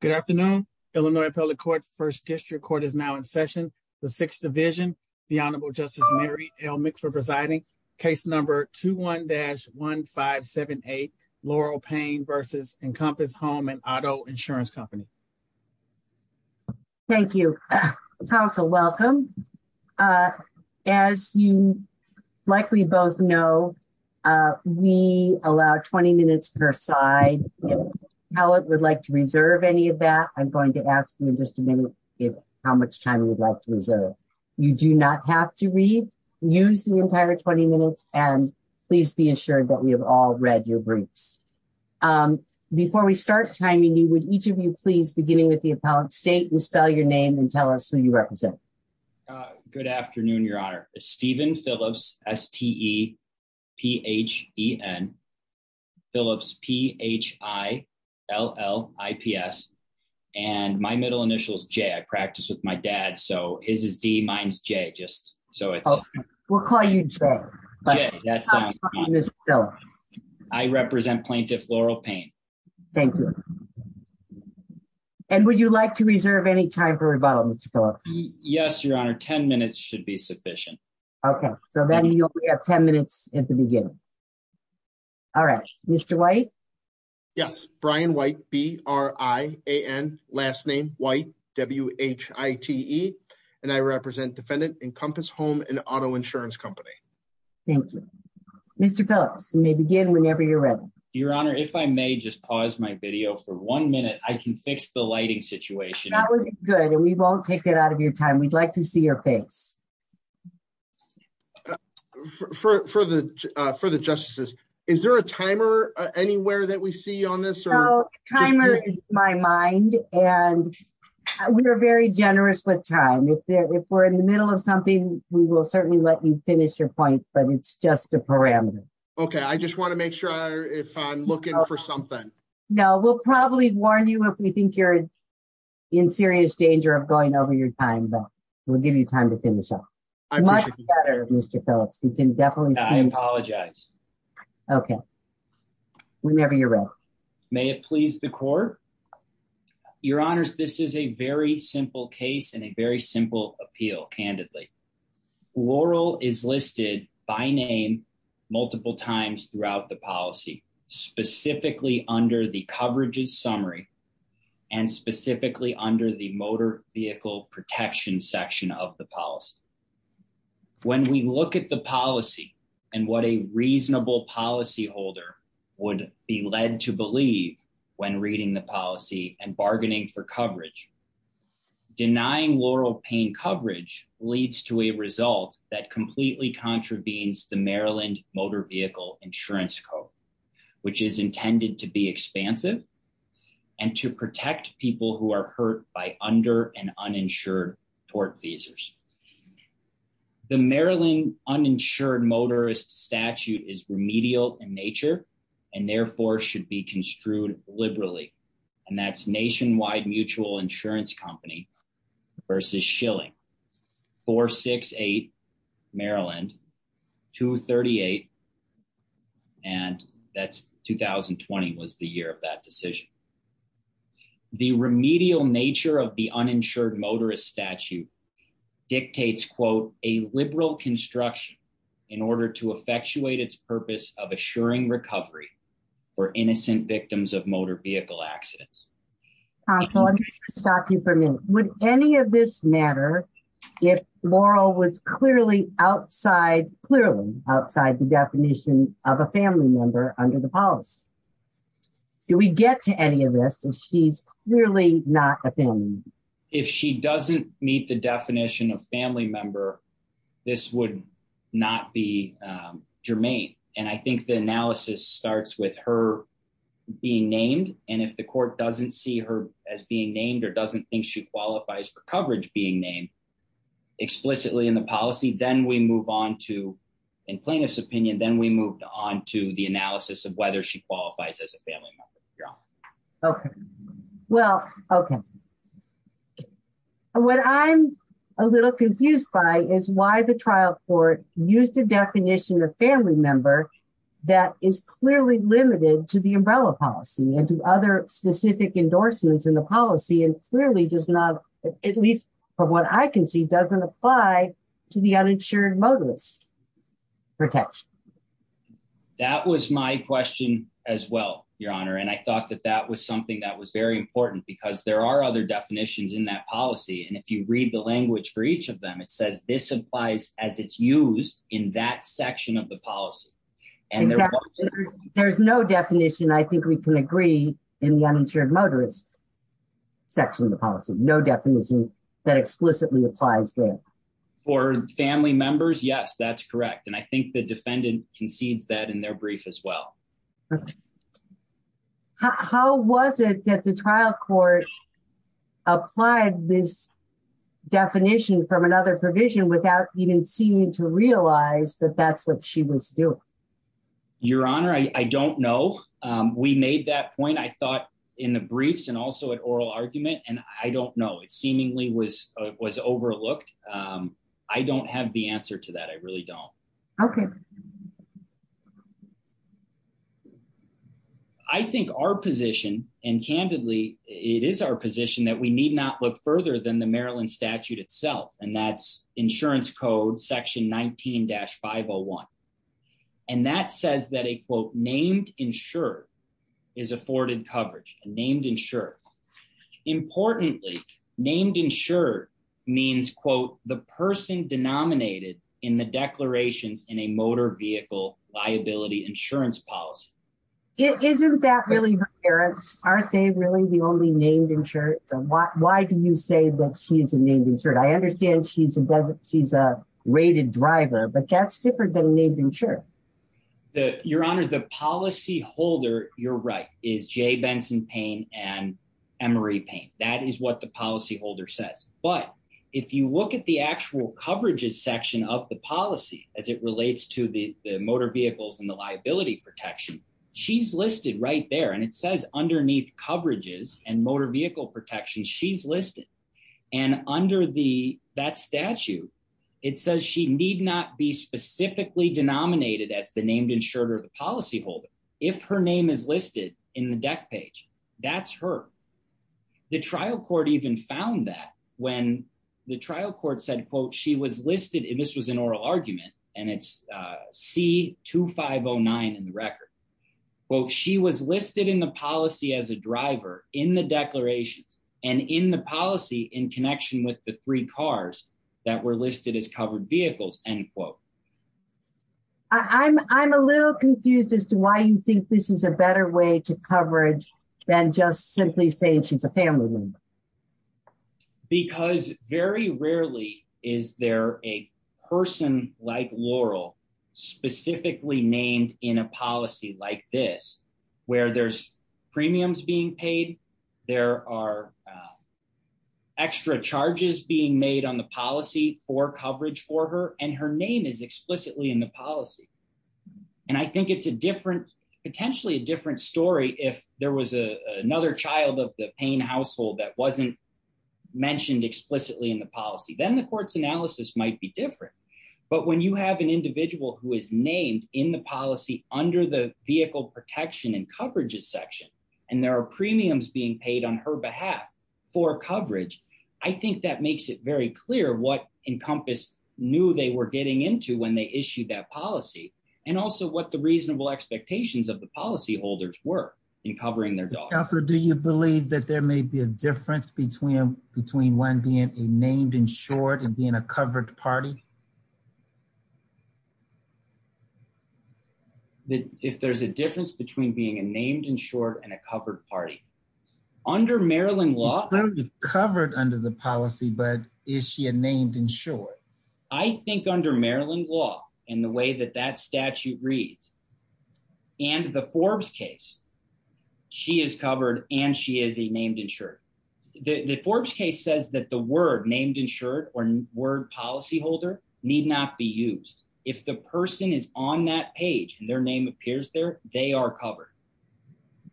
Good afternoon, Illinois, public court 1st district court is now in session. The 6th division. The honorable justice Mary Elmick for presiding case number 2, 1 dash 1, 5, 7, 8, Laurel pain versus encompass home and auto insurance company. Thank you council welcome. As you likely both know. We allow 20 minutes per side how it would like to reserve any of that. I'm going to ask you in just a minute. If how much time would like to reserve, you do not have to read. Use the entire 20 minutes and please be assured that we have all read your briefs. Before we start timing, you would each of you please beginning with the appellate state and spell your name and tell us who you represent. Good afternoon your honor Stephen Phillips. S. T. E. P. H. E. N. Phillips P. H. I. L. L. I. P. S. And my middle initials J. I practice with my dad, so his is D minus J. Just so it's we'll call you. But that's still I represent plaintiff Laurel pain. Thank you. And would you like to reserve any time for rebuttal Mr. Yes, your honor 10 minutes should be sufficient. Okay, so then you only have 10 minutes at the beginning. All right, Mr. White. Yes, Brian white B. R. I. A. N. Last name white W. H. I. T. E. And I represent defendant encompass home and auto insurance company. Thank you, Mr. Phillips may begin whenever you're ready. Your honor if I may just pause my video for 1 minute, I can fix the lighting situation. That was good and we won't take it out of your time. We'd like to see your face for the for the justices. Is there a timer anywhere that we see on this or timer is my mind and we are very generous with time. If we're in the middle of something, we will certainly let you finish your point, but it's just a parameter. Okay, I just want to make sure if I'm looking for something. No, we'll probably warn you if we think you're in serious danger of going over your time, but we'll give you time to finish up. I'm much better. Mr. Phillips, you can definitely I apologize. Okay, whenever you're ready. May it please the court your honors. This is a very simple case and a very simple appeal. Candidly, Laurel is listed by name multiple times throughout the policy specifically under the coverages summary and specifically under the motor vehicle protection section of the policy. When we look at the policy and what a reasonable policy holder would be led to believe when reading the policy and bargaining for coverage. Denying Laurel pain coverage leads to a result that completely contravenes the Maryland motor vehicle insurance code, which is intended to be expansive and to protect people who are hurt by under an uninsured tort visas. The Maryland uninsured motorist statute is remedial in nature and therefore should be construed liberally and that's nationwide mutual insurance company versus shilling 468 Maryland 238 and that's 2020 was the year of that decision. The remedial nature of the uninsured motorist statute dictates quote a liberal construction in order to effectuate its purpose of assuring recovery for innocent victims of motor vehicle accidents. Stop you for me. Would any of this matter if Laurel was clearly outside clearly outside the definition of a family member under the policy. Do we get to any of this and she's really not a family. If she doesn't meet the definition of family member. This would not be germane. And I think the analysis starts with her being named and if the court doesn't see her as being named or doesn't think she qualifies for coverage being named Explicitly in the policy, then we move on to in plaintiff's opinion, then we moved on to the analysis of whether she qualifies as a family. Okay, well, okay. What I'm a little confused by is why the trial court used a definition of family member. That is clearly limited to the umbrella policy and to other specific endorsements in the policy and clearly does not at least for what I can see doesn't apply to the uninsured motorist protection. That was my question as well, Your Honor, and I thought that that was something that was very important because there are other definitions in that policy. And if you read the language for each of them. It says this applies as it's used in that section of the policy. And there's no definition. I think we can agree in the uninsured motorist section of the policy, no definition that explicitly applies there. For family members. Yes, that's correct. And I think the defendant concedes that in their brief as well. How was it that the trial court applied this definition from another provision without even seeming to realize that that's what she was doing. Your Honor, I don't know. We made that point. I thought in the briefs and also at oral argument and I don't know it seemingly was was overlooked. I don't have the answer to that. I really don't. Okay. I think our position and candidly, it is our position that we need not look further than the Maryland statute itself. And that's insurance code section 19 dash 501 And that says that a quote named insurer is afforded coverage named insurer. Importantly, named insurer means, quote, the person denominated in the declarations in a motor vehicle liability insurance policy. It isn't that really parents aren't they really the only named insured. Why, why do you say that she's a named insured I understand she's a doesn't. She's a rated driver, but that's different than maybe sure That your honor the policy holder. You're right, is Jay Benson pain and Emery paint. That is what the policy holder says. But if you look at the actual coverages section of the policy as it relates to the motor vehicles and the liability protection. She's listed right there. And it says underneath coverages and motor vehicle protection. She's listed and under the that statute. It says she need not be specifically denominated as the named insured or the policy holder. If her name is listed in the deck page that's her The trial court even found that when the trial court said, quote, she was listed in this was an oral argument and it's see to 509 in the record. Well, she was listed in the policy as a driver in the declarations and in the policy in connection with the three cars that were listed as covered vehicles and quote I'm, I'm a little confused as to why you think this is a better way to coverage than just simply saying she's a family member. Because very rarely is there a person like Laurel specifically named in a policy like this where there's premiums being paid. There are Extra charges being made on the policy for coverage for her and her name is explicitly in the policy. And I think it's a different potentially a different story. If there was a another child of the pain household that wasn't Mentioned explicitly in the policy, then the courts analysis might be different. But when you have an individual who is named in the policy under the vehicle protection and coverages section and there are premiums being paid on her behalf. For coverage. I think that makes it very clear what encompass knew they were getting into when they issued that policy and also what the reasonable expectations of the policy holders were in covering their Dog. So do you believe that there may be a difference between between one being named insured and being a covered party. That if there's a difference between being a named insured and a covered party under Maryland law covered under the policy, but is she a named insured. I think under Maryland law in the way that that statute reads And the Forbes case. She is covered and she is a named insured the Forbes case says that the word named insured or word policy holder need not be used if the person is on that page and their name appears there. They are covered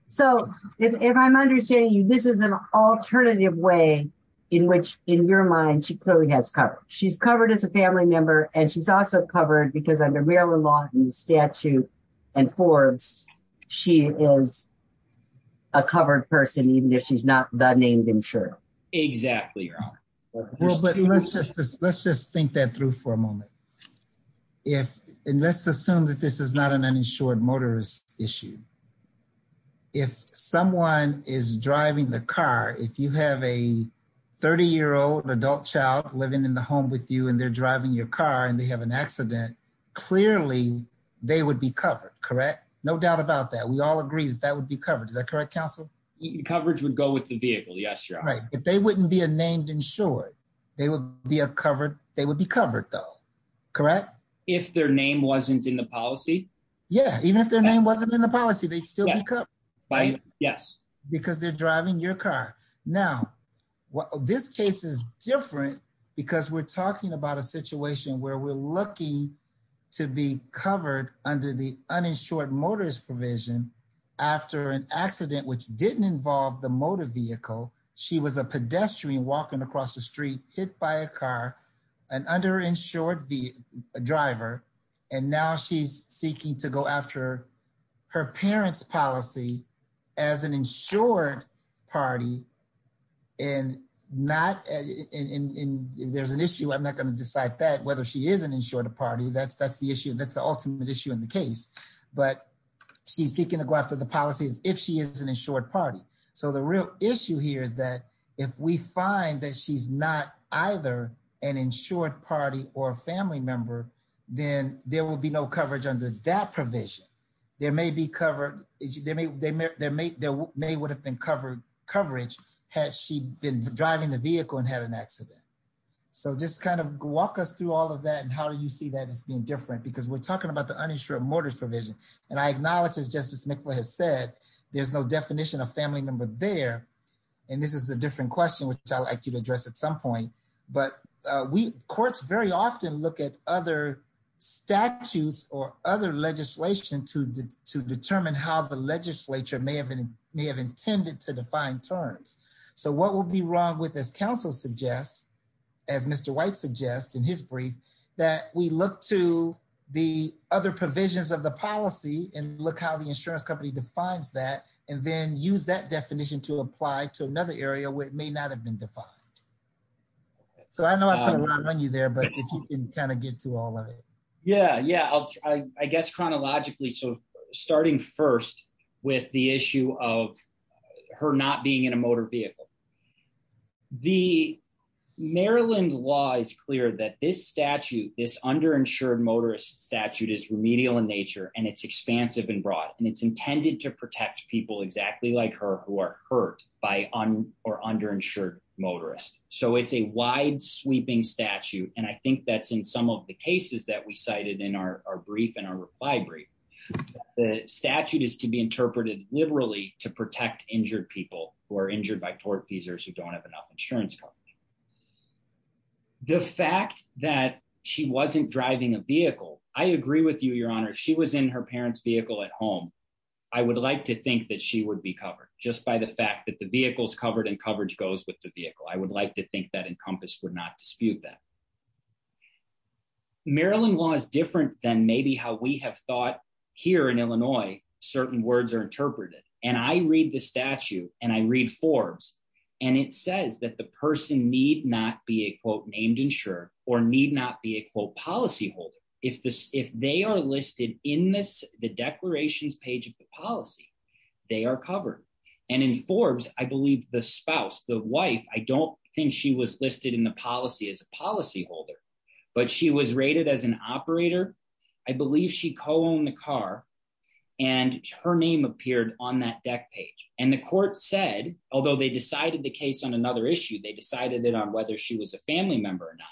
So if I'm understanding you. This is an alternative way in which in your mind. She clearly has covered. She's covered as a family member and she's also covered because I've been Maryland law and statute and Forbes. She is A covered person, even if she's not that named insured Exactly. Let's just, let's just think that through for a moment. If unless assume that this is not an uninsured motorist issue. If someone is driving the car. If you have a 30 year old adult child living in the home with you and they're driving your car and they have an accident. Clearly, they would be covered. Correct. No doubt about that. We all agree that that would be covered. Is that correct, counsel. Coverage would go with the vehicle. Yes, you're right. If they wouldn't be a named insured, they would be a covered, they would be covered, though. Correct. If their name wasn't in the policy. Yeah, even if their name wasn't in the policy, they'd still be covered. Right. Yes. Because they're driving your car. Now what this case is different because we're talking about a situation where we're looking To be covered under the uninsured motorist provision after an accident which didn't involve the motor vehicle. She was a pedestrian walking across the street hit by a car. An underinsured the driver and now she's seeking to go after her parents policy as an insured party. And not in there's an issue. I'm not going to decide that whether she is an insured a party. That's, that's the issue. That's the ultimate issue in the case, but She's seeking to go after the policies. If she is an insured party. So the real issue here is that if we find that she's not either an insured party or a family member. Then there will be no coverage under that provision, there may be covered is there may there may there may would have been covered coverage has she been driving the vehicle and had an accident. So just kind of walk us through all of that. And how do you see that it's been different because we're talking about the uninsured mortars provision. And I acknowledge as justice make what has said there's no definition of family member there. And this is a different question, which I like you to address at some point, but we courts very often look at other Statutes or other legislation to determine how the legislature may have been may have intended to define terms. So what will be wrong with this Council suggests As Mr. White suggest in his brief that we look to the other provisions of the policy and look how the insurance company defines that and then use that definition to apply to another area where it may not have been defined So I know I put a lot on you there, but if you can kind of get to all of it. Yeah, yeah, I guess chronologically. So starting first with the issue of her not being in a motor vehicle. The Maryland law is clear that this statute is underinsured motorist statute is remedial in nature and it's expansive and broad and it's intended to protect people exactly like her, who are hurt by on or underinsured motorist So it's a wide sweeping statute. And I think that's in some of the cases that we cited in our brief and our library. The statute is to be interpreted liberally to protect injured people who are injured by tortfeasors who don't have enough insurance. The fact that she wasn't driving a vehicle. I agree with you, Your Honor. She was in her parents vehicle at home. I would like to think that she would be covered just by the fact that the vehicles covered and coverage goes with the vehicle. I would like to think that encompass would not dispute that Maryland law is different than maybe how we have thought here in Illinois certain words are interpreted and I read the statute and I read Forbes And it says that the person need not be a quote named insurer or need not be a quote policyholder if this if they are listed in this the declarations page of the policy. They are covered and in Forbes. I believe the spouse, the wife. I don't think she was listed in the policy as a policy holder, but she was rated as an operator. I believe she co-owned the car and her name appeared on that deck page and the court said, although they decided the case on another issue they decided that on whether she was a family member or not.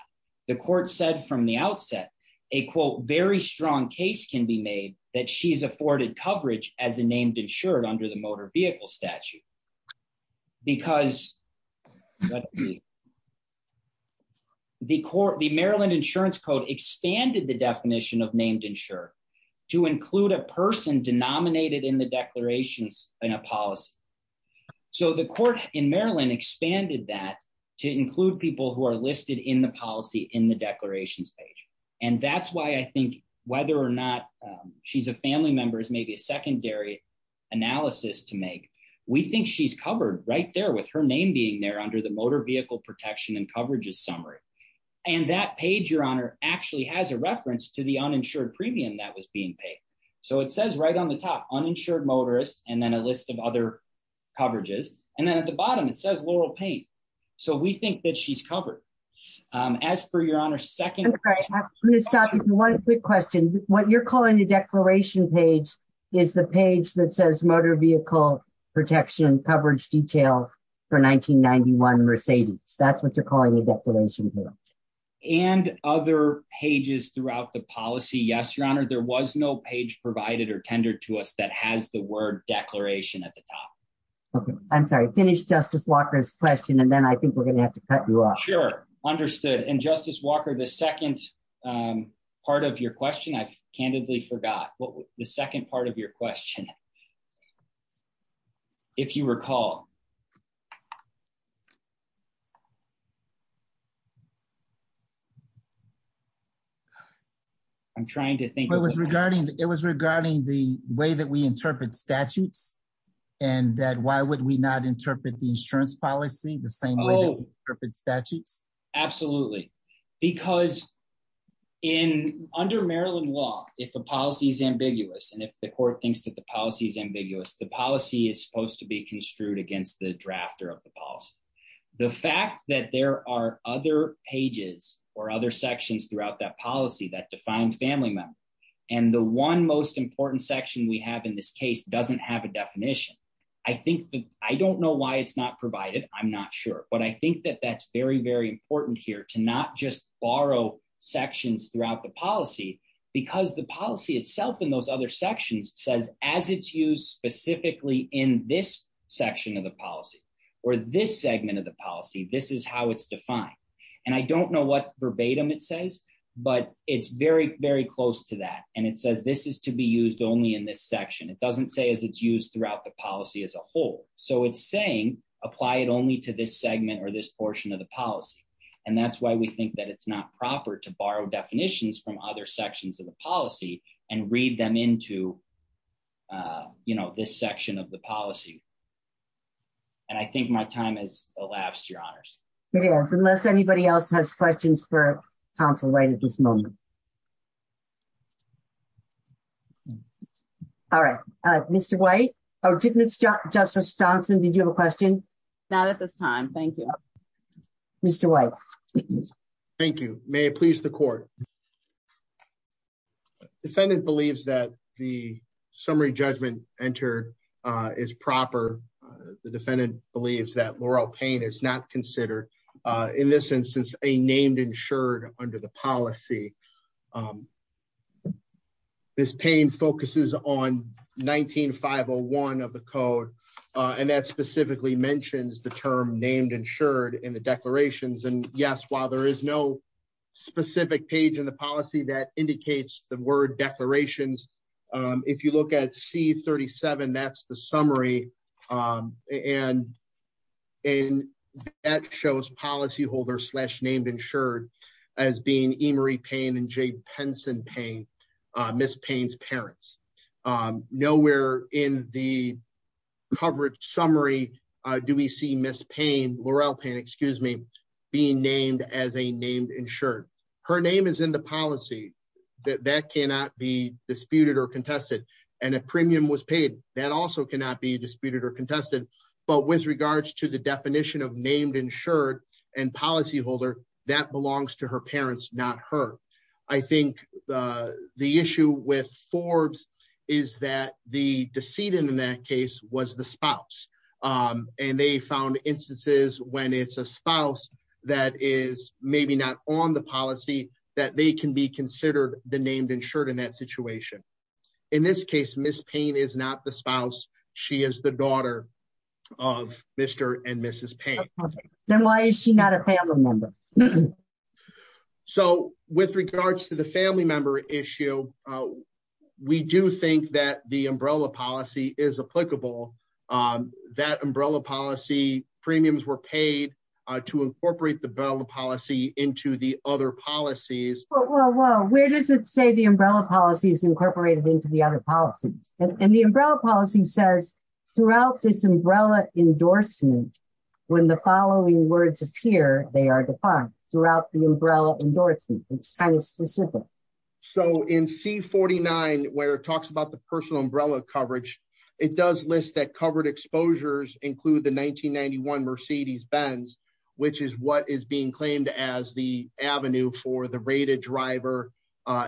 The court said from the outset, a quote very strong case can be made that she's afforded coverage as a named insured under the motor vehicle statute. Because The court, the Maryland insurance code expanded the definition of named insure to include a person denominated in the declarations and a policy. So the court in Maryland expanded that to include people who are listed in the policy in the declarations page. And that's why I think whether or not She's a family members, maybe a secondary analysis to make. We think she's covered right there with her name being there under the motor vehicle protection and coverages summary. And that page, Your Honor, actually has a reference to the uninsured premium that was being paid. So it says right on the top uninsured motorist and then a list of other coverages and then at the bottom, it says Laurel paint. So we think that she's covered. As for Your Honor, second Stop. One quick question. What you're calling the declaration page is the page that says motor vehicle protection coverage detail for 1991 Mercedes. That's what you're calling the declaration here. And other pages throughout the policy. Yes, Your Honor, there was no page provided or tender to us that has the word declaration at the top. Okay, I'm sorry. Finish Justice Walker's question. And then I think we're going to have to cut you off. Sure, understood. And Justice Walker. The second part of your question. I've candidly forgot what the second part of your question. If you recall, I'm trying to think it was regarding It was regarding the way that we interpret statutes and that why would we not interpret the insurance policy. The same perfect statutes. Absolutely. Because in under Maryland law, if a policy is ambiguous. And if the court thinks that the policy is ambiguous. The policy is supposed to be construed against the drafter of the policy. The fact that there are other pages or other sections throughout that policy that define family member And the one most important section we have in this case doesn't have a definition I think that I don't know why it's not provided. I'm not sure. But I think that that's very, very important here to not just borrow sections throughout the policy. Because the policy itself in those other sections says as it's used specifically in this section of the policy or this segment of the policy. This is how it's defined And I don't know what verbatim. It says, but it's very, very close to that. And it says this is to be used only in this section. It doesn't say as it's used throughout the policy as a whole. So it's saying apply it only to this segment or this portion of the policy. And that's why we think that it's not proper to borrow definitions from other sections of the policy and read them into You know this section of the policy. And I think my time has elapsed, Your Honors. Yes, unless anybody else has questions for counsel right at this moment. All right, Mr. White. Oh, did Mr. Justice Johnson. Did you have a question. Not at this time. Thank you. Mr. White. Thank you. May it please the court. Defendant believes that the summary judgment entered is proper. The defendant believes that Laurel Payne is not considered in this instance a named insured under the policy. This Payne focuses on 19-501 of the code. And that specifically mentions the term named insured in the declarations. And yes, while there is no specific page in the policy that indicates the word declarations, if you look at C-37, that's the summary, and that shows policyholder slash named insured as being Emory Payne. And Jay Penson Payne, Ms. Payne's parents. Nowhere in the coverage summary do we see Ms. Payne, Laurel Payne, excuse me, being named as a named insured. Her name is in the policy. That that cannot be disputed or contested and a premium was paid that also cannot be disputed or contested. But with regards to the definition of named insured and policyholder that belongs to her parents, not her. I think the issue with Forbes is that the decedent in that case was the spouse. And they found instances when it's a spouse that is maybe not on the policy that they can be considered the named insured in that situation. In this case, Ms. Payne is not the spouse. She is the daughter of Mr. and Mrs. Payne. Then why is she not a family member? So with regards to the family member issue, we do think that the umbrella policy is applicable. That umbrella policy premiums were paid to incorporate the umbrella policy into the other policies. Where does it say the umbrella policy is incorporated into the other policies and the umbrella policy says throughout this umbrella endorsement when the following words appear, they are defined throughout the umbrella endorsement. It's kind of specific. So in C-49 where it talks about the personal umbrella coverage, it does list that covered exposures include the 1991 Mercedes-Benz, which is what is being claimed as the avenue for the rated driver,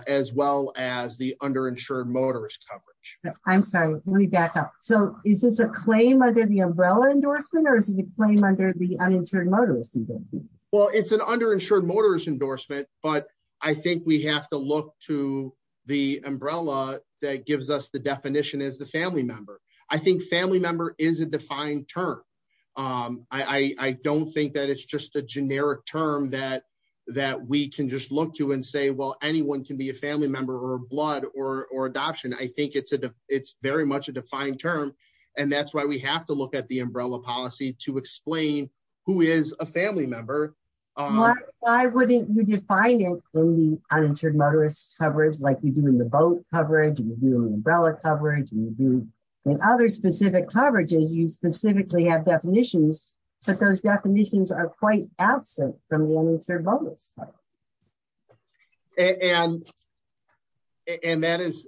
as well as the underinsured motorist coverage. I'm sorry, let me back up. So is this a claim under the umbrella endorsement or is it a claim under the uninsured motorist endorsement? Well, it's an underinsured motorist endorsement, but I think we have to look to the umbrella that gives us the definition as the family member. I think family member is a defined term. I don't think that it's just a generic term that we can just look to and say, well, anyone can be a family member or blood or adoption. I think it's very much a defined term. And that's why we have to look at the umbrella policy to explain who is a family member. Why wouldn't you define it in the uninsured motorist coverage like you do in the boat coverage, you do in umbrella coverage, you do in other specific coverages, you specifically have definitions, but those definitions are quite absent from the uninsured motorist coverage. And And that is,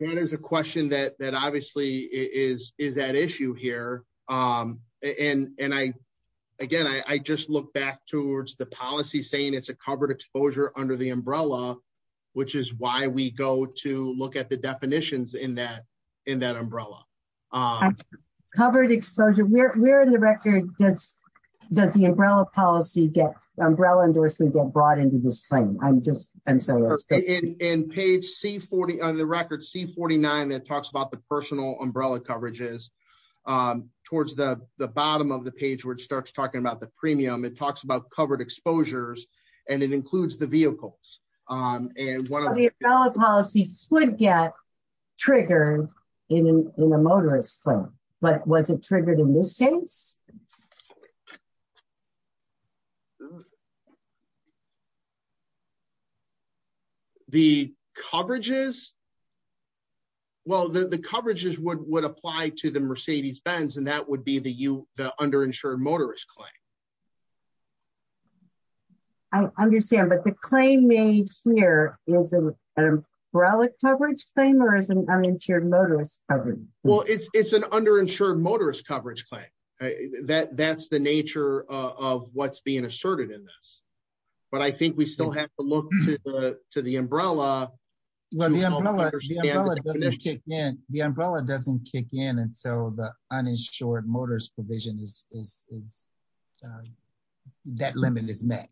that is a question that obviously is that issue here. And I, again, I just look back towards the policy saying it's a covered exposure under the umbrella, which is why we go to look at the definitions in that umbrella. Um, covered exposure. We're in the record. Does, does the umbrella policy get umbrella endorsement get brought into this thing? I'm just, I'm sorry. In page C40 on the record C49 that talks about the personal umbrella coverages. Towards the bottom of the page where it starts talking about the premium. It talks about covered exposures and it includes the vehicles. And one of the policy would get triggered in a motorist claim, but was it triggered in this case. The coverages Well, the coverages would would apply to the Mercedes Benz and that would be the you the underinsured motorist claim. I understand, but the claim made here is an umbrella coverage claim or is an uninsured motorist coverage. Well, it's, it's an underinsured motorist coverage claim that that's the nature of what's being asserted in this, but I think we still have to look to the to the umbrella. Well, the umbrella doesn't kick in, the umbrella doesn't kick in until the uninsured motorist provision is That limit is met.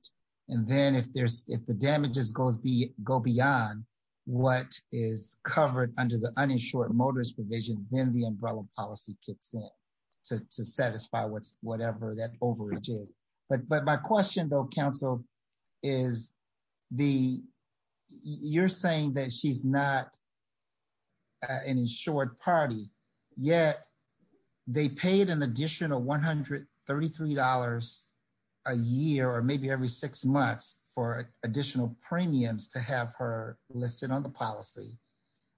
And then if there's if the damages goes be go beyond what is covered under the uninsured motorist provision, then the umbrella policy kicks in. To satisfy what's whatever that overage is. But, but my question, though, counsel is the you're saying that she's not An insured party yet they paid an additional $133 a year, or maybe every six months for additional premiums to have her listed on the policy.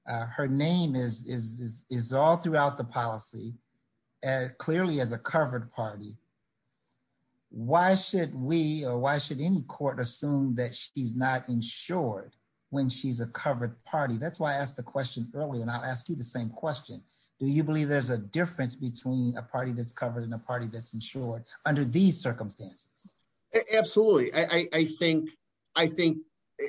Her name is is is all throughout the policy as clearly as a covered party. Why should we, or why should any court assume that she's not insured when she's a covered party. That's why I asked the question earlier, and I'll ask you the same question. Do you believe there's a difference between a party that's covered in a party that's insured under these circumstances. Absolutely. I think, I think,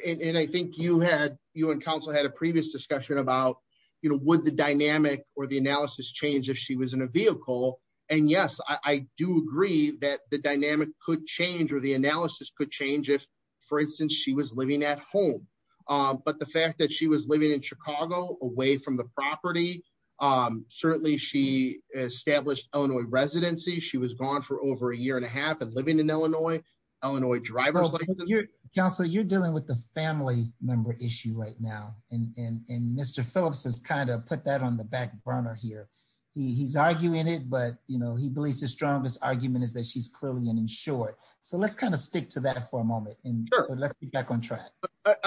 and I think you had you and counsel had a previous discussion about You know, with the dynamic or the analysis change if she was in a vehicle. And yes, I do agree that the dynamic could change or the analysis could change if, for instance, she was living at home. But the fact that she was living in Chicago away from the property. I'm certainly she established Illinois residency. She was gone for over a year and a half and living in Illinois, Illinois driver. Council, you're dealing with the family member issue right now and Mr. Phillips has kind of put that on the back burner here. He's arguing it but you know he believes the strongest argument is that she's clearly an insured. So let's kind of stick to that for a moment. And let's get back on track.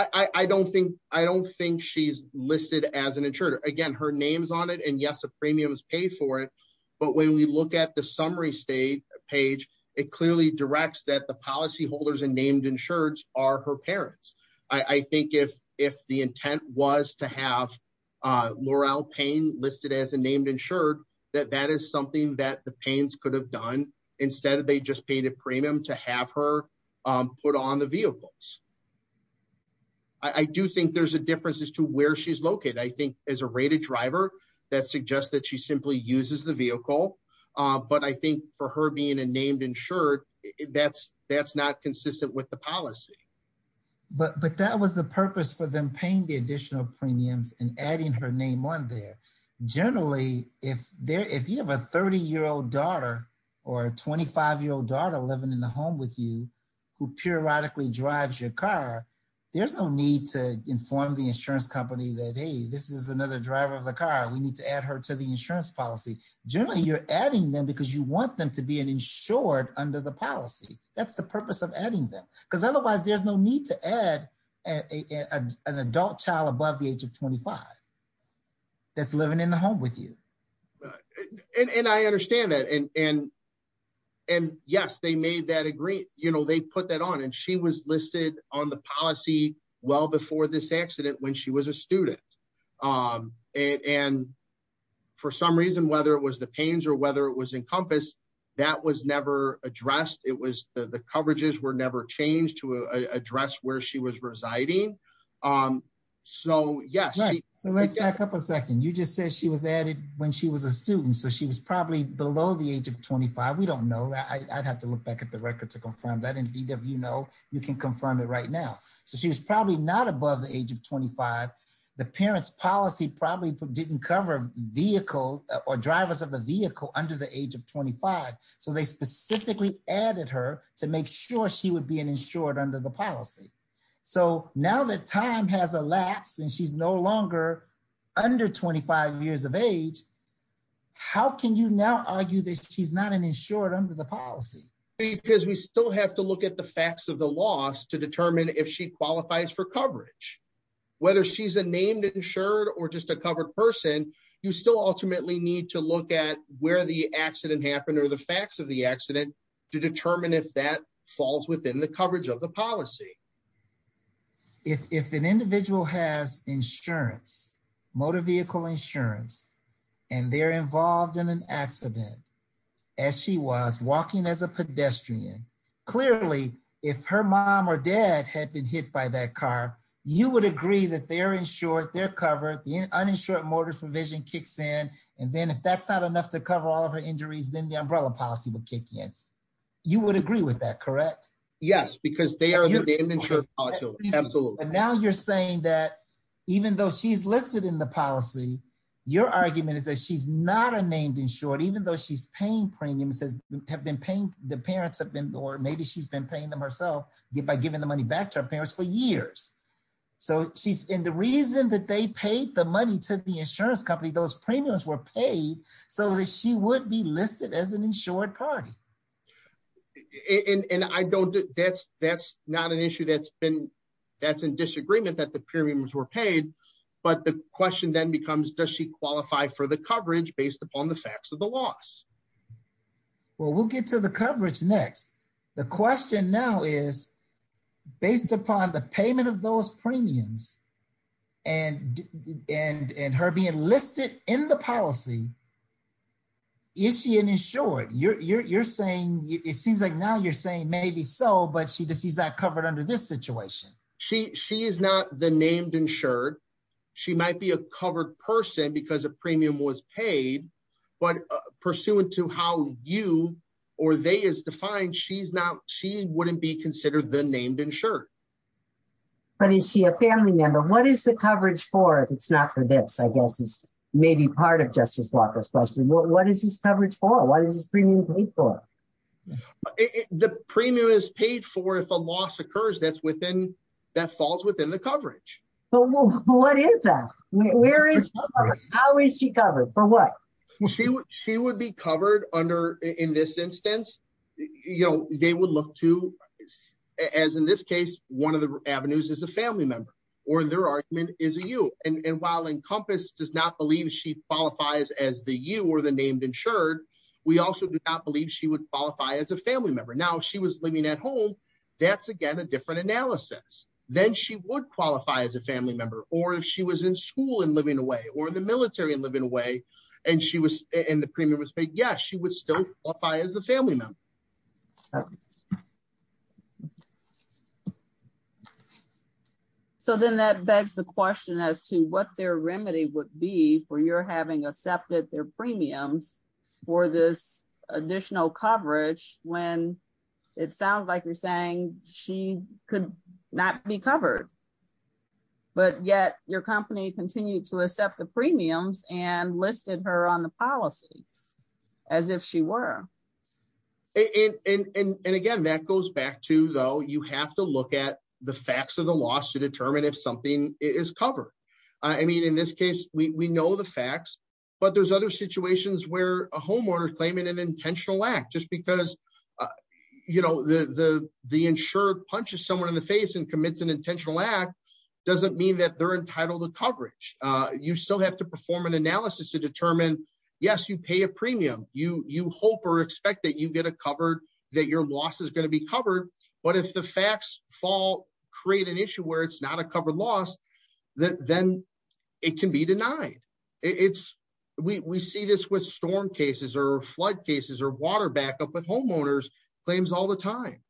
I don't think I don't think she's listed as an insurer. Again, her name's on it. And yes, a premium is paid for it. But when we look at the summary state page. It clearly directs that the policy holders and named insured are her parents. I think if if the intent was to have Laurel pain listed as a named insured that that is something that the pains could have done instead of they just paid a premium to have her put on the vehicles. I do think there's a difference as to where she's located. I think as a rated driver that suggests that she simply uses the vehicle, but I think for her being a named insured that's that's not consistent with the policy. But, but that was the purpose for them paying the additional premiums and adding her name on there. Generally, if they're if you have a 30 year old daughter or 25 year old daughter living in the home with you who periodically drives your car. There's no need to inform the insurance company that, hey, this is another driver of the car. We need to add her to the insurance policy. Generally, you're adding them because you want them to be an insured under the policy. That's the purpose of adding them because otherwise there's no need to add An adult child above the age of 25 That's living in the home with you. And I understand that and and and yes, they made that agree, you know, they put that on and she was listed on the policy well before this accident when she was a student. And for some reason, whether it was the pains or whether it was encompassed that was never addressed. It was the coverages were never changed to address where she was residing. Um, so, yes. So let's back up a second. You just said she was added when she was a student. So she was probably below the age of 25 we don't know that I'd have to look back at the record to confirm that in VW know you can confirm it right now. So she was probably not above the age of 25 the parents policy probably didn't cover vehicle or drivers of the vehicle under the age of 25 so they specifically added her to make sure she would be an insured under the policy. So now that time has elapsed and she's no longer under 25 years of age. How can you now argue this. She's not an insured under the policy. Because we still have to look at the facts of the loss to determine if she qualifies for coverage. Whether she's a named insured or just a covered person, you still ultimately need to look at where the accident happened or the facts of the accident to determine if that falls within the coverage of the policy. If an individual has insurance motor vehicle insurance and they're involved in an accident. As she was walking as a pedestrian. Clearly, if her mom or dad had been hit by that car, you would agree that they're insured they're covered the uninsured motor provision kicks in. And then if that's not enough to cover all of her injuries, then the umbrella policy will kick in. You would agree with that. Correct. Yes, because they are the insured. Absolutely. And now you're saying that even though she's listed in the policy. Your argument is that she's not a named insured, even though she's paying premiums have been paying the parents have been or maybe she's been paying them herself get by giving the money back to our parents for years. So she's in the reason that they paid the money to the insurance company those premiums were paid so that she would be listed as an insured party. And I don't that's that's not an issue that's been that's in disagreement that the premiums were paid. But the question then becomes, does she qualify for the coverage based upon the facts of the loss. Well, we'll get to the coverage. Next, the question now is based upon the payment of those premiums and and and her being listed in the policy. Is she an insured you're saying it seems like now you're saying maybe so, but she does. He's not covered under this situation, she, she is not the named insured. She might be a covered person because a premium was paid, but pursuant to how you or they is defined. She's not she wouldn't be considered the named insured. But is she a family member. What is the coverage for it's not for this, I guess, is maybe part of Justice Walker's question. What is this coverage for what is premium paid for The premium is paid for if a loss occurs that's within that falls within the coverage. But what is that Where is How is she covered for what She would she would be covered under in this instance, you know, they will look to As in this case, one of the avenues is a family member or their argument is a you and while encompass does not believe she qualifies as the you or the named insured We also do not believe she would qualify as a family member. Now she was living at home. That's, again, a different analysis, then she would qualify as a family member or if she was in school and living away or the military and living away and she was in the premium was paid. Yes, she would still apply as the family member. So then that begs the question as to what their remedy would be for your having accepted their premiums for this additional coverage when It sounds like you're saying she could not be covered. But yet your company continue to accept the premiums and listed her on the policy as if she were In and again that goes back to, though, you have to look at the facts of the loss to determine if something is covered I mean, in this case, we know the facts, but there's other situations where a homeowner claiming an intentional act just because You know the the the insured punches someone in the face and commits an intentional act doesn't mean that they're entitled to coverage. You still have to perform an analysis to determine. Yes, you pay a premium you you hope or expect that you get a covered that your loss is going to be covered But if the facts fall create an issue where it's not a covered loss that then it can be denied. It's we see this with storm cases or flood cases or water backup with homeowners claims all the time.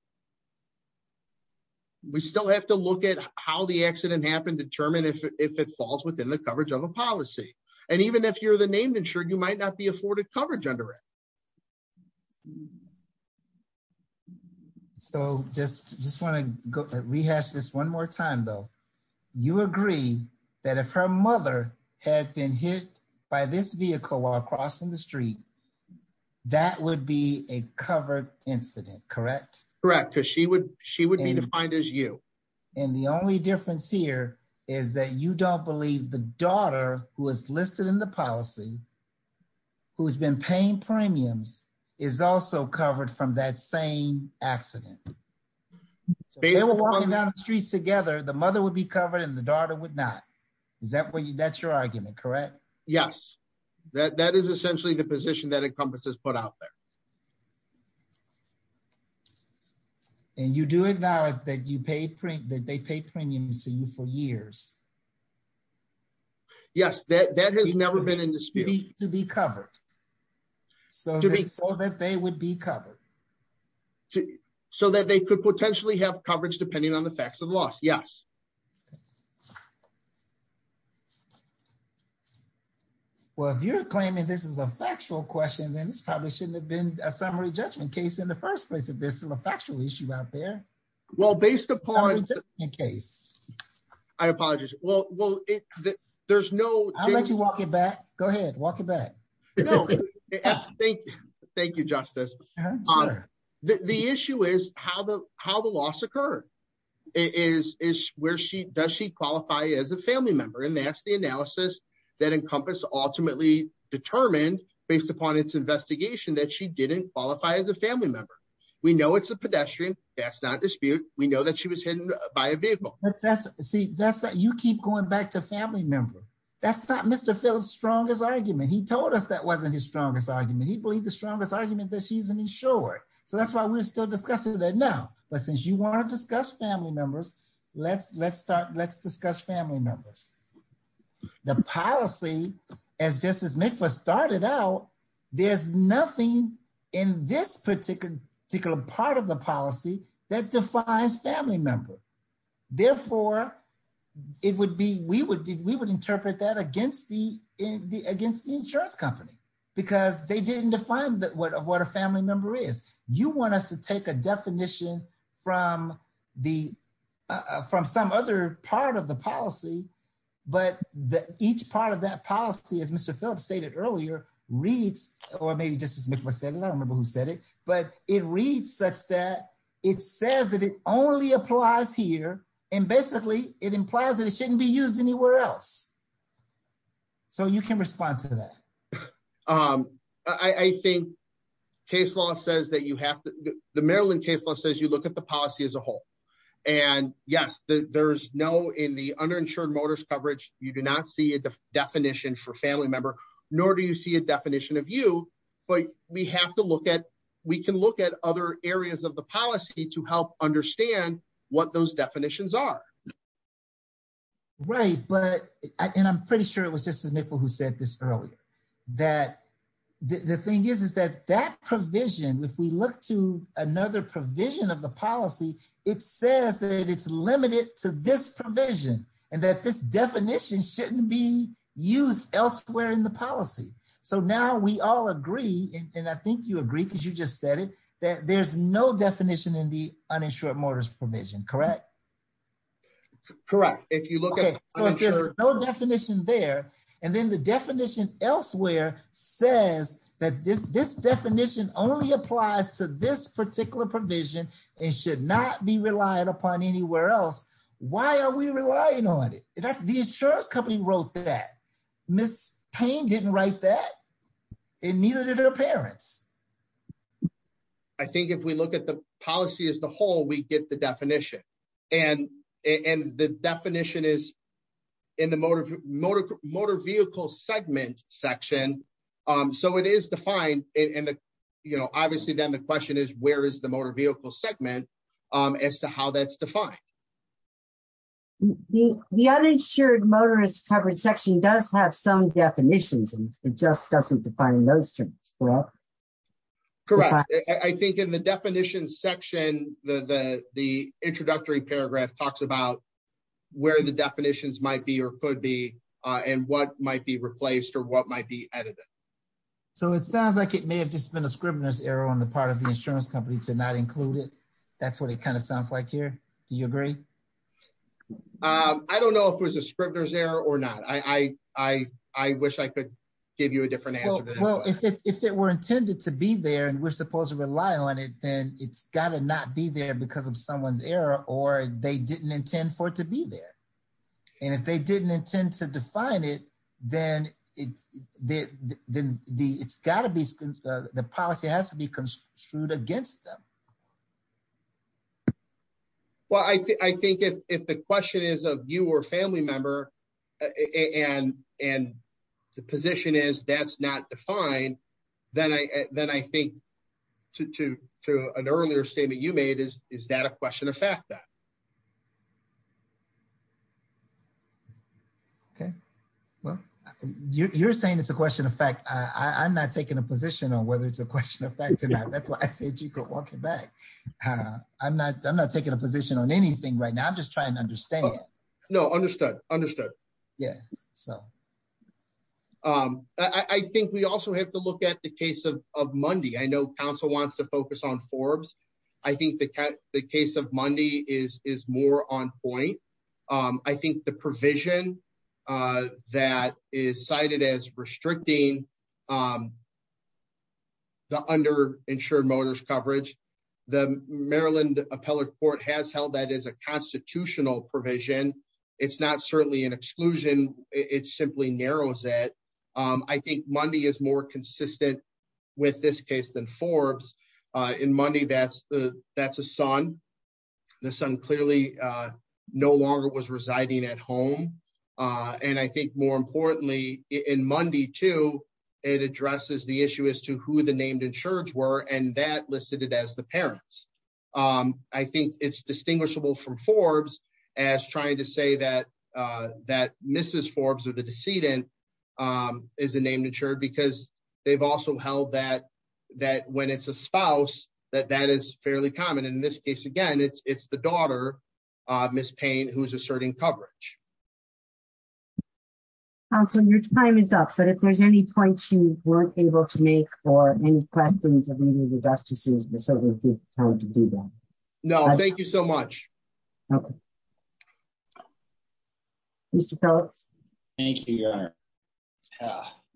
We still have to look at how the accident happened determine if it falls within the coverage of a policy. And even if you're the named insured, you might not be afforded coverage under it. So just just want to go to rehash this one more time, though, you agree that if her mother had been hit by this vehicle while crossing the street. That would be a covered incident. Correct. Correct. Because she would she would be defined as you and the only difference here is that you don't believe the daughter was listed in the policy. Who's been paying premiums is also covered from that same accident. They were walking down the streets together, the mother would be covered in the daughter would not. Is that what you that's your argument. Correct. Yes, that that is essentially the position that encompasses put out there. And you do it now that you paid print that they pay premiums to you for years. Yes, that that has never been in the city to be covered. So, to be so that they would be covered. So that they could potentially have coverage, depending on the facts of the loss. Yes. Well, if you're claiming this is a factual question, then it's probably shouldn't have been a summary judgment case in the first place. If there's still a factual issue out there. Well, based upon the case. I apologize. Well, well, there's no, I'll let you walk it back. Go ahead, walk it back. Thank you, Justice. The issue is how the, how the loss occur is, is where she does she qualify as a family member and that's the analysis that encompass ultimately determined based upon its investigation that she didn't qualify as a family member. We know it's a pedestrian. That's not dispute. We know that she was hidden by a vehicle. That's see that's that you keep going back to family member. That's not Mr. Phillips strongest argument. He told us that wasn't his strongest argument. He believed the strongest argument that she's an insurer. So that's why we're still discussing that now. But since you want to discuss family members. Let's, let's start. Let's discuss family members. The policy as justice make was started out. There's nothing in this particular particular part of the policy that defines family member. Therefore, it would be we would we would interpret that against the in the against the insurance company, because they didn't define that what a what a family member is you want us to take a definition from the From some other part of the policy, but the each part of that policy is Mr. Phillips stated earlier reads or maybe just as I said, I don't remember who said it, but it reads such that it says that it only applies here. And basically, it implies that it shouldn't be used anywhere else. So you can respond to that. I think case law says that you have the Maryland case law says you look at the policy as a whole. And yes, there's no in the underinsured motorist coverage, you do not see a definition for family member, nor do you see a definition of you, but we have to look at, we can look at other areas of the policy to help understand what those definitions are. Right, but I can. I'm pretty sure it was just as much for who said this earlier that The thing is, is that that provision. If we look to another provision of the policy. It says that it's limited to this provision and that this definition shouldn't be used elsewhere in the policy. So now we all agree. And I think you agree, because you just said it, that there's no definition in the uninsured motors provision. Correct. Correct. If you look at No definition there. And then the definition elsewhere says that this, this definition only applies to this particular provision. It should not be relied upon anywhere else. Why are we relying on it. That's the insurance company wrote that Miss pain didn't write that it neither their parents. I think if we look at the policy as the whole we get the definition And and the definition is in the motor, motor, motor vehicle segment section. So it is defined in the, you know, obviously, then the question is, where is the motor vehicle segment as to how that's defined The uninsured motorist coverage section does have some definitions and it just doesn't define those terms. Correct. I think in the definition section, the, the, the introductory paragraph talks about where the definitions might be or could be and what might be replaced or what might be edited So it sounds like it may have just been a scrivener's error on the part of the insurance company to not include it. That's what it kind of sounds like here. You agree. I don't know if it was a scrivener's error or not. I, I, I wish I could give you a different answer. Well, if it were intended to be there and we're supposed to rely on it, then it's gotta not be there because of someone's error or they didn't intend for it to be there. And if they didn't intend to define it, then it's the, the, the, it's gotta be the policy has to be construed against them. Well, I think, I think if the question is of you or family member and and the position is that's not defined, then I, then I think to to to an earlier statement you made is, is that a question of fact that Okay, well, you're saying it's a question of fact, I'm not taking a position on whether it's a question of fact or not. That's what I said. You could walk it back. I'm not, I'm not taking a position on anything right now. I'm just trying to understand. No, understood. Understood. Yeah. So, I think we also have to look at the case of Monday. I know council wants to focus on Forbes. I think the case of Monday is is more on point. I think the provision that is cited as restricting The under insured motorist coverage, the Maryland appellate court has held that is a constitutional provision. It's not certainly an exclusion. It's simply narrows it I think Monday is more consistent with this case than Forbes in money. That's the, that's a son, the son clearly No longer was residing at home. And I think more importantly in Monday to it addresses the issue as to who the named insured were and that listed it as the parents. I think it's distinguishable from Forbes as trying to say that that Mrs. Forbes or the decedent Is a named insured because they've also held that that when it's a spouse that that is fairly common. In this case, again, it's, it's the daughter, Miss Payne, who's asserting coverage. Also, your time is up. But if there's any points you weren't able to make or any questions. No, thank you so much. Okay. Mr. Phillips. Thank you, Your Honor.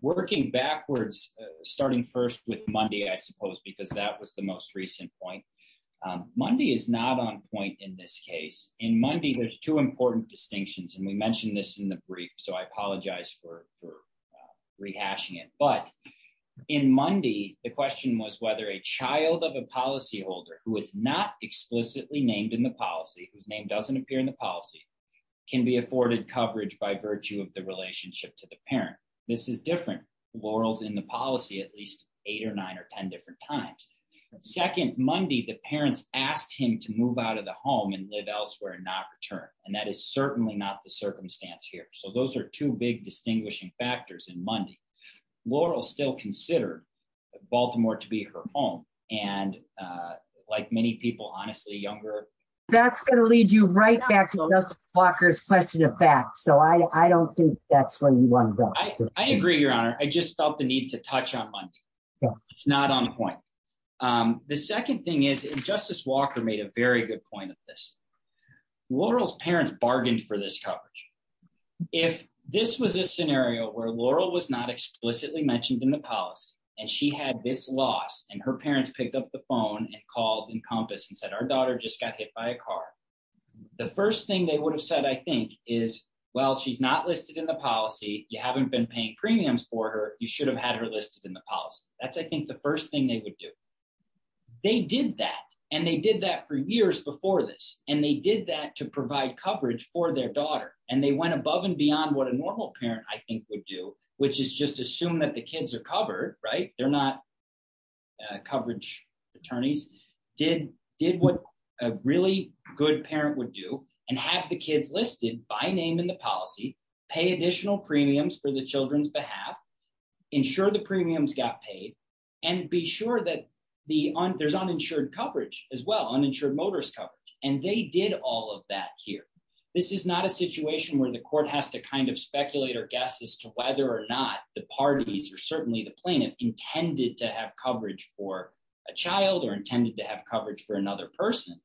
Working backwards, starting first with Monday, I suppose, because that was the most recent point Monday is not on point in this case in Monday. There's two important distinctions and we mentioned this in the brief, so I apologize for Rehashing it but in Monday. The question was whether a child of a policyholder who is not explicitly named in the policy whose name doesn't appear in the policy. Can be afforded coverage by virtue of the relationship to the parent. This is different laurels in the policy at least eight or nine or 10 different times. Second, Monday, the parents asked him to move out of the home and live elsewhere and not return. And that is certainly not the circumstance here. So those are two big distinguishing factors in Monday laurels still consider Baltimore to be her home and like many people honestly younger That's going to lead you right back to walkers question of fact, so I don't think that's what you want. I agree, Your Honor. I just felt the need to touch on Monday. It's not on point. The second thing is, and Justice Walker made a very good point of this laurels parents bargained for this coverage. If this was a scenario where Laurel was not explicitly mentioned in the policy and she had this loss and her parents picked up the phone and called and compass and said, our daughter just got hit by a car. The first thing they would have said, I think, is, well, she's not listed in the policy. You haven't been paying premiums for her. You should have had her listed in the policy. That's, I think the first thing they would do. They did that and they did that for years before this and they did that to provide coverage for their daughter and they went above and beyond what a normal parent, I think, would do, which is just assume that the kids are covered right they're not coverage attorneys did what a really good parent would do and have the kids listed by name in the policy pay additional premiums for the children's behalf. Ensure the premiums got paid and be sure that there's uninsured coverage as well uninsured motorist coverage and they did all of that here. This is not a situation where the court has to kind of speculate or guess as to whether or not the parties are certainly the plaintiff intended to have coverage for a child or intended to have coverage for another person.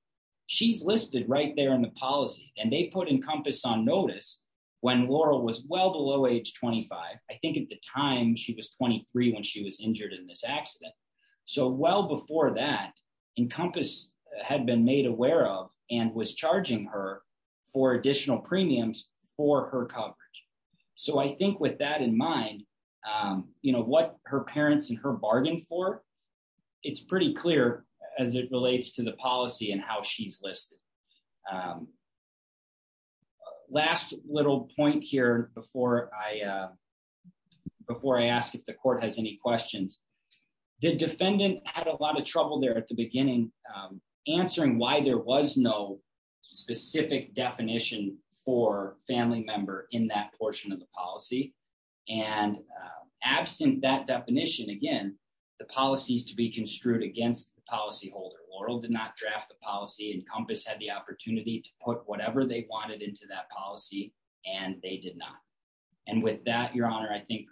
She's listed right there in the policy and they put encompass on notice when Laurel was well below age 25 I think at the time she was 23 when she was injured in this accident. So well before that encompass had been made aware of and was charging her for additional premiums for her coverage. So I think with that in mind, you know what her parents and her bargain for it's pretty clear as it relates to the policy and how she's listed Last little point here before I Before I ask if the court has any questions, the defendant had a lot of trouble there at the beginning, answering why there was no Specific definition for family member in that portion of the policy and absent that definition again. The policies to be construed against the policyholder Laurel did not draft the policy encompass had the opportunity to put whatever they wanted into that policy and they did not. And with that, Your Honor. I think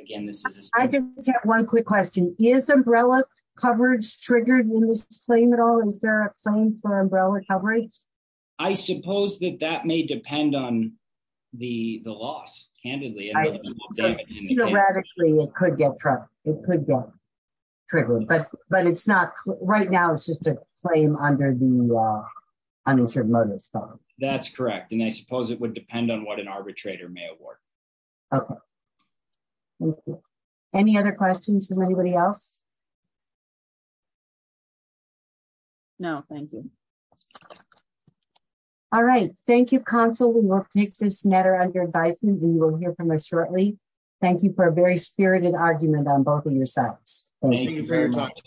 again, this is I didn't get one quick question is umbrella coverage triggered in this claim at all. Is there a claim for umbrella coverage. I suppose that that may depend on the the loss candidly Radically, it could get truck. It could get Triggered but but it's not right now. It's just a claim under the uninsured mothers. That's correct. And I suppose it would depend on what an arbitrator may award. Okay. Any other questions from anybody else. No, thank you. All right. Thank you console. We will take this matter under advisement and we'll hear from us shortly. Thank you for a very spirited argument on both of your sides.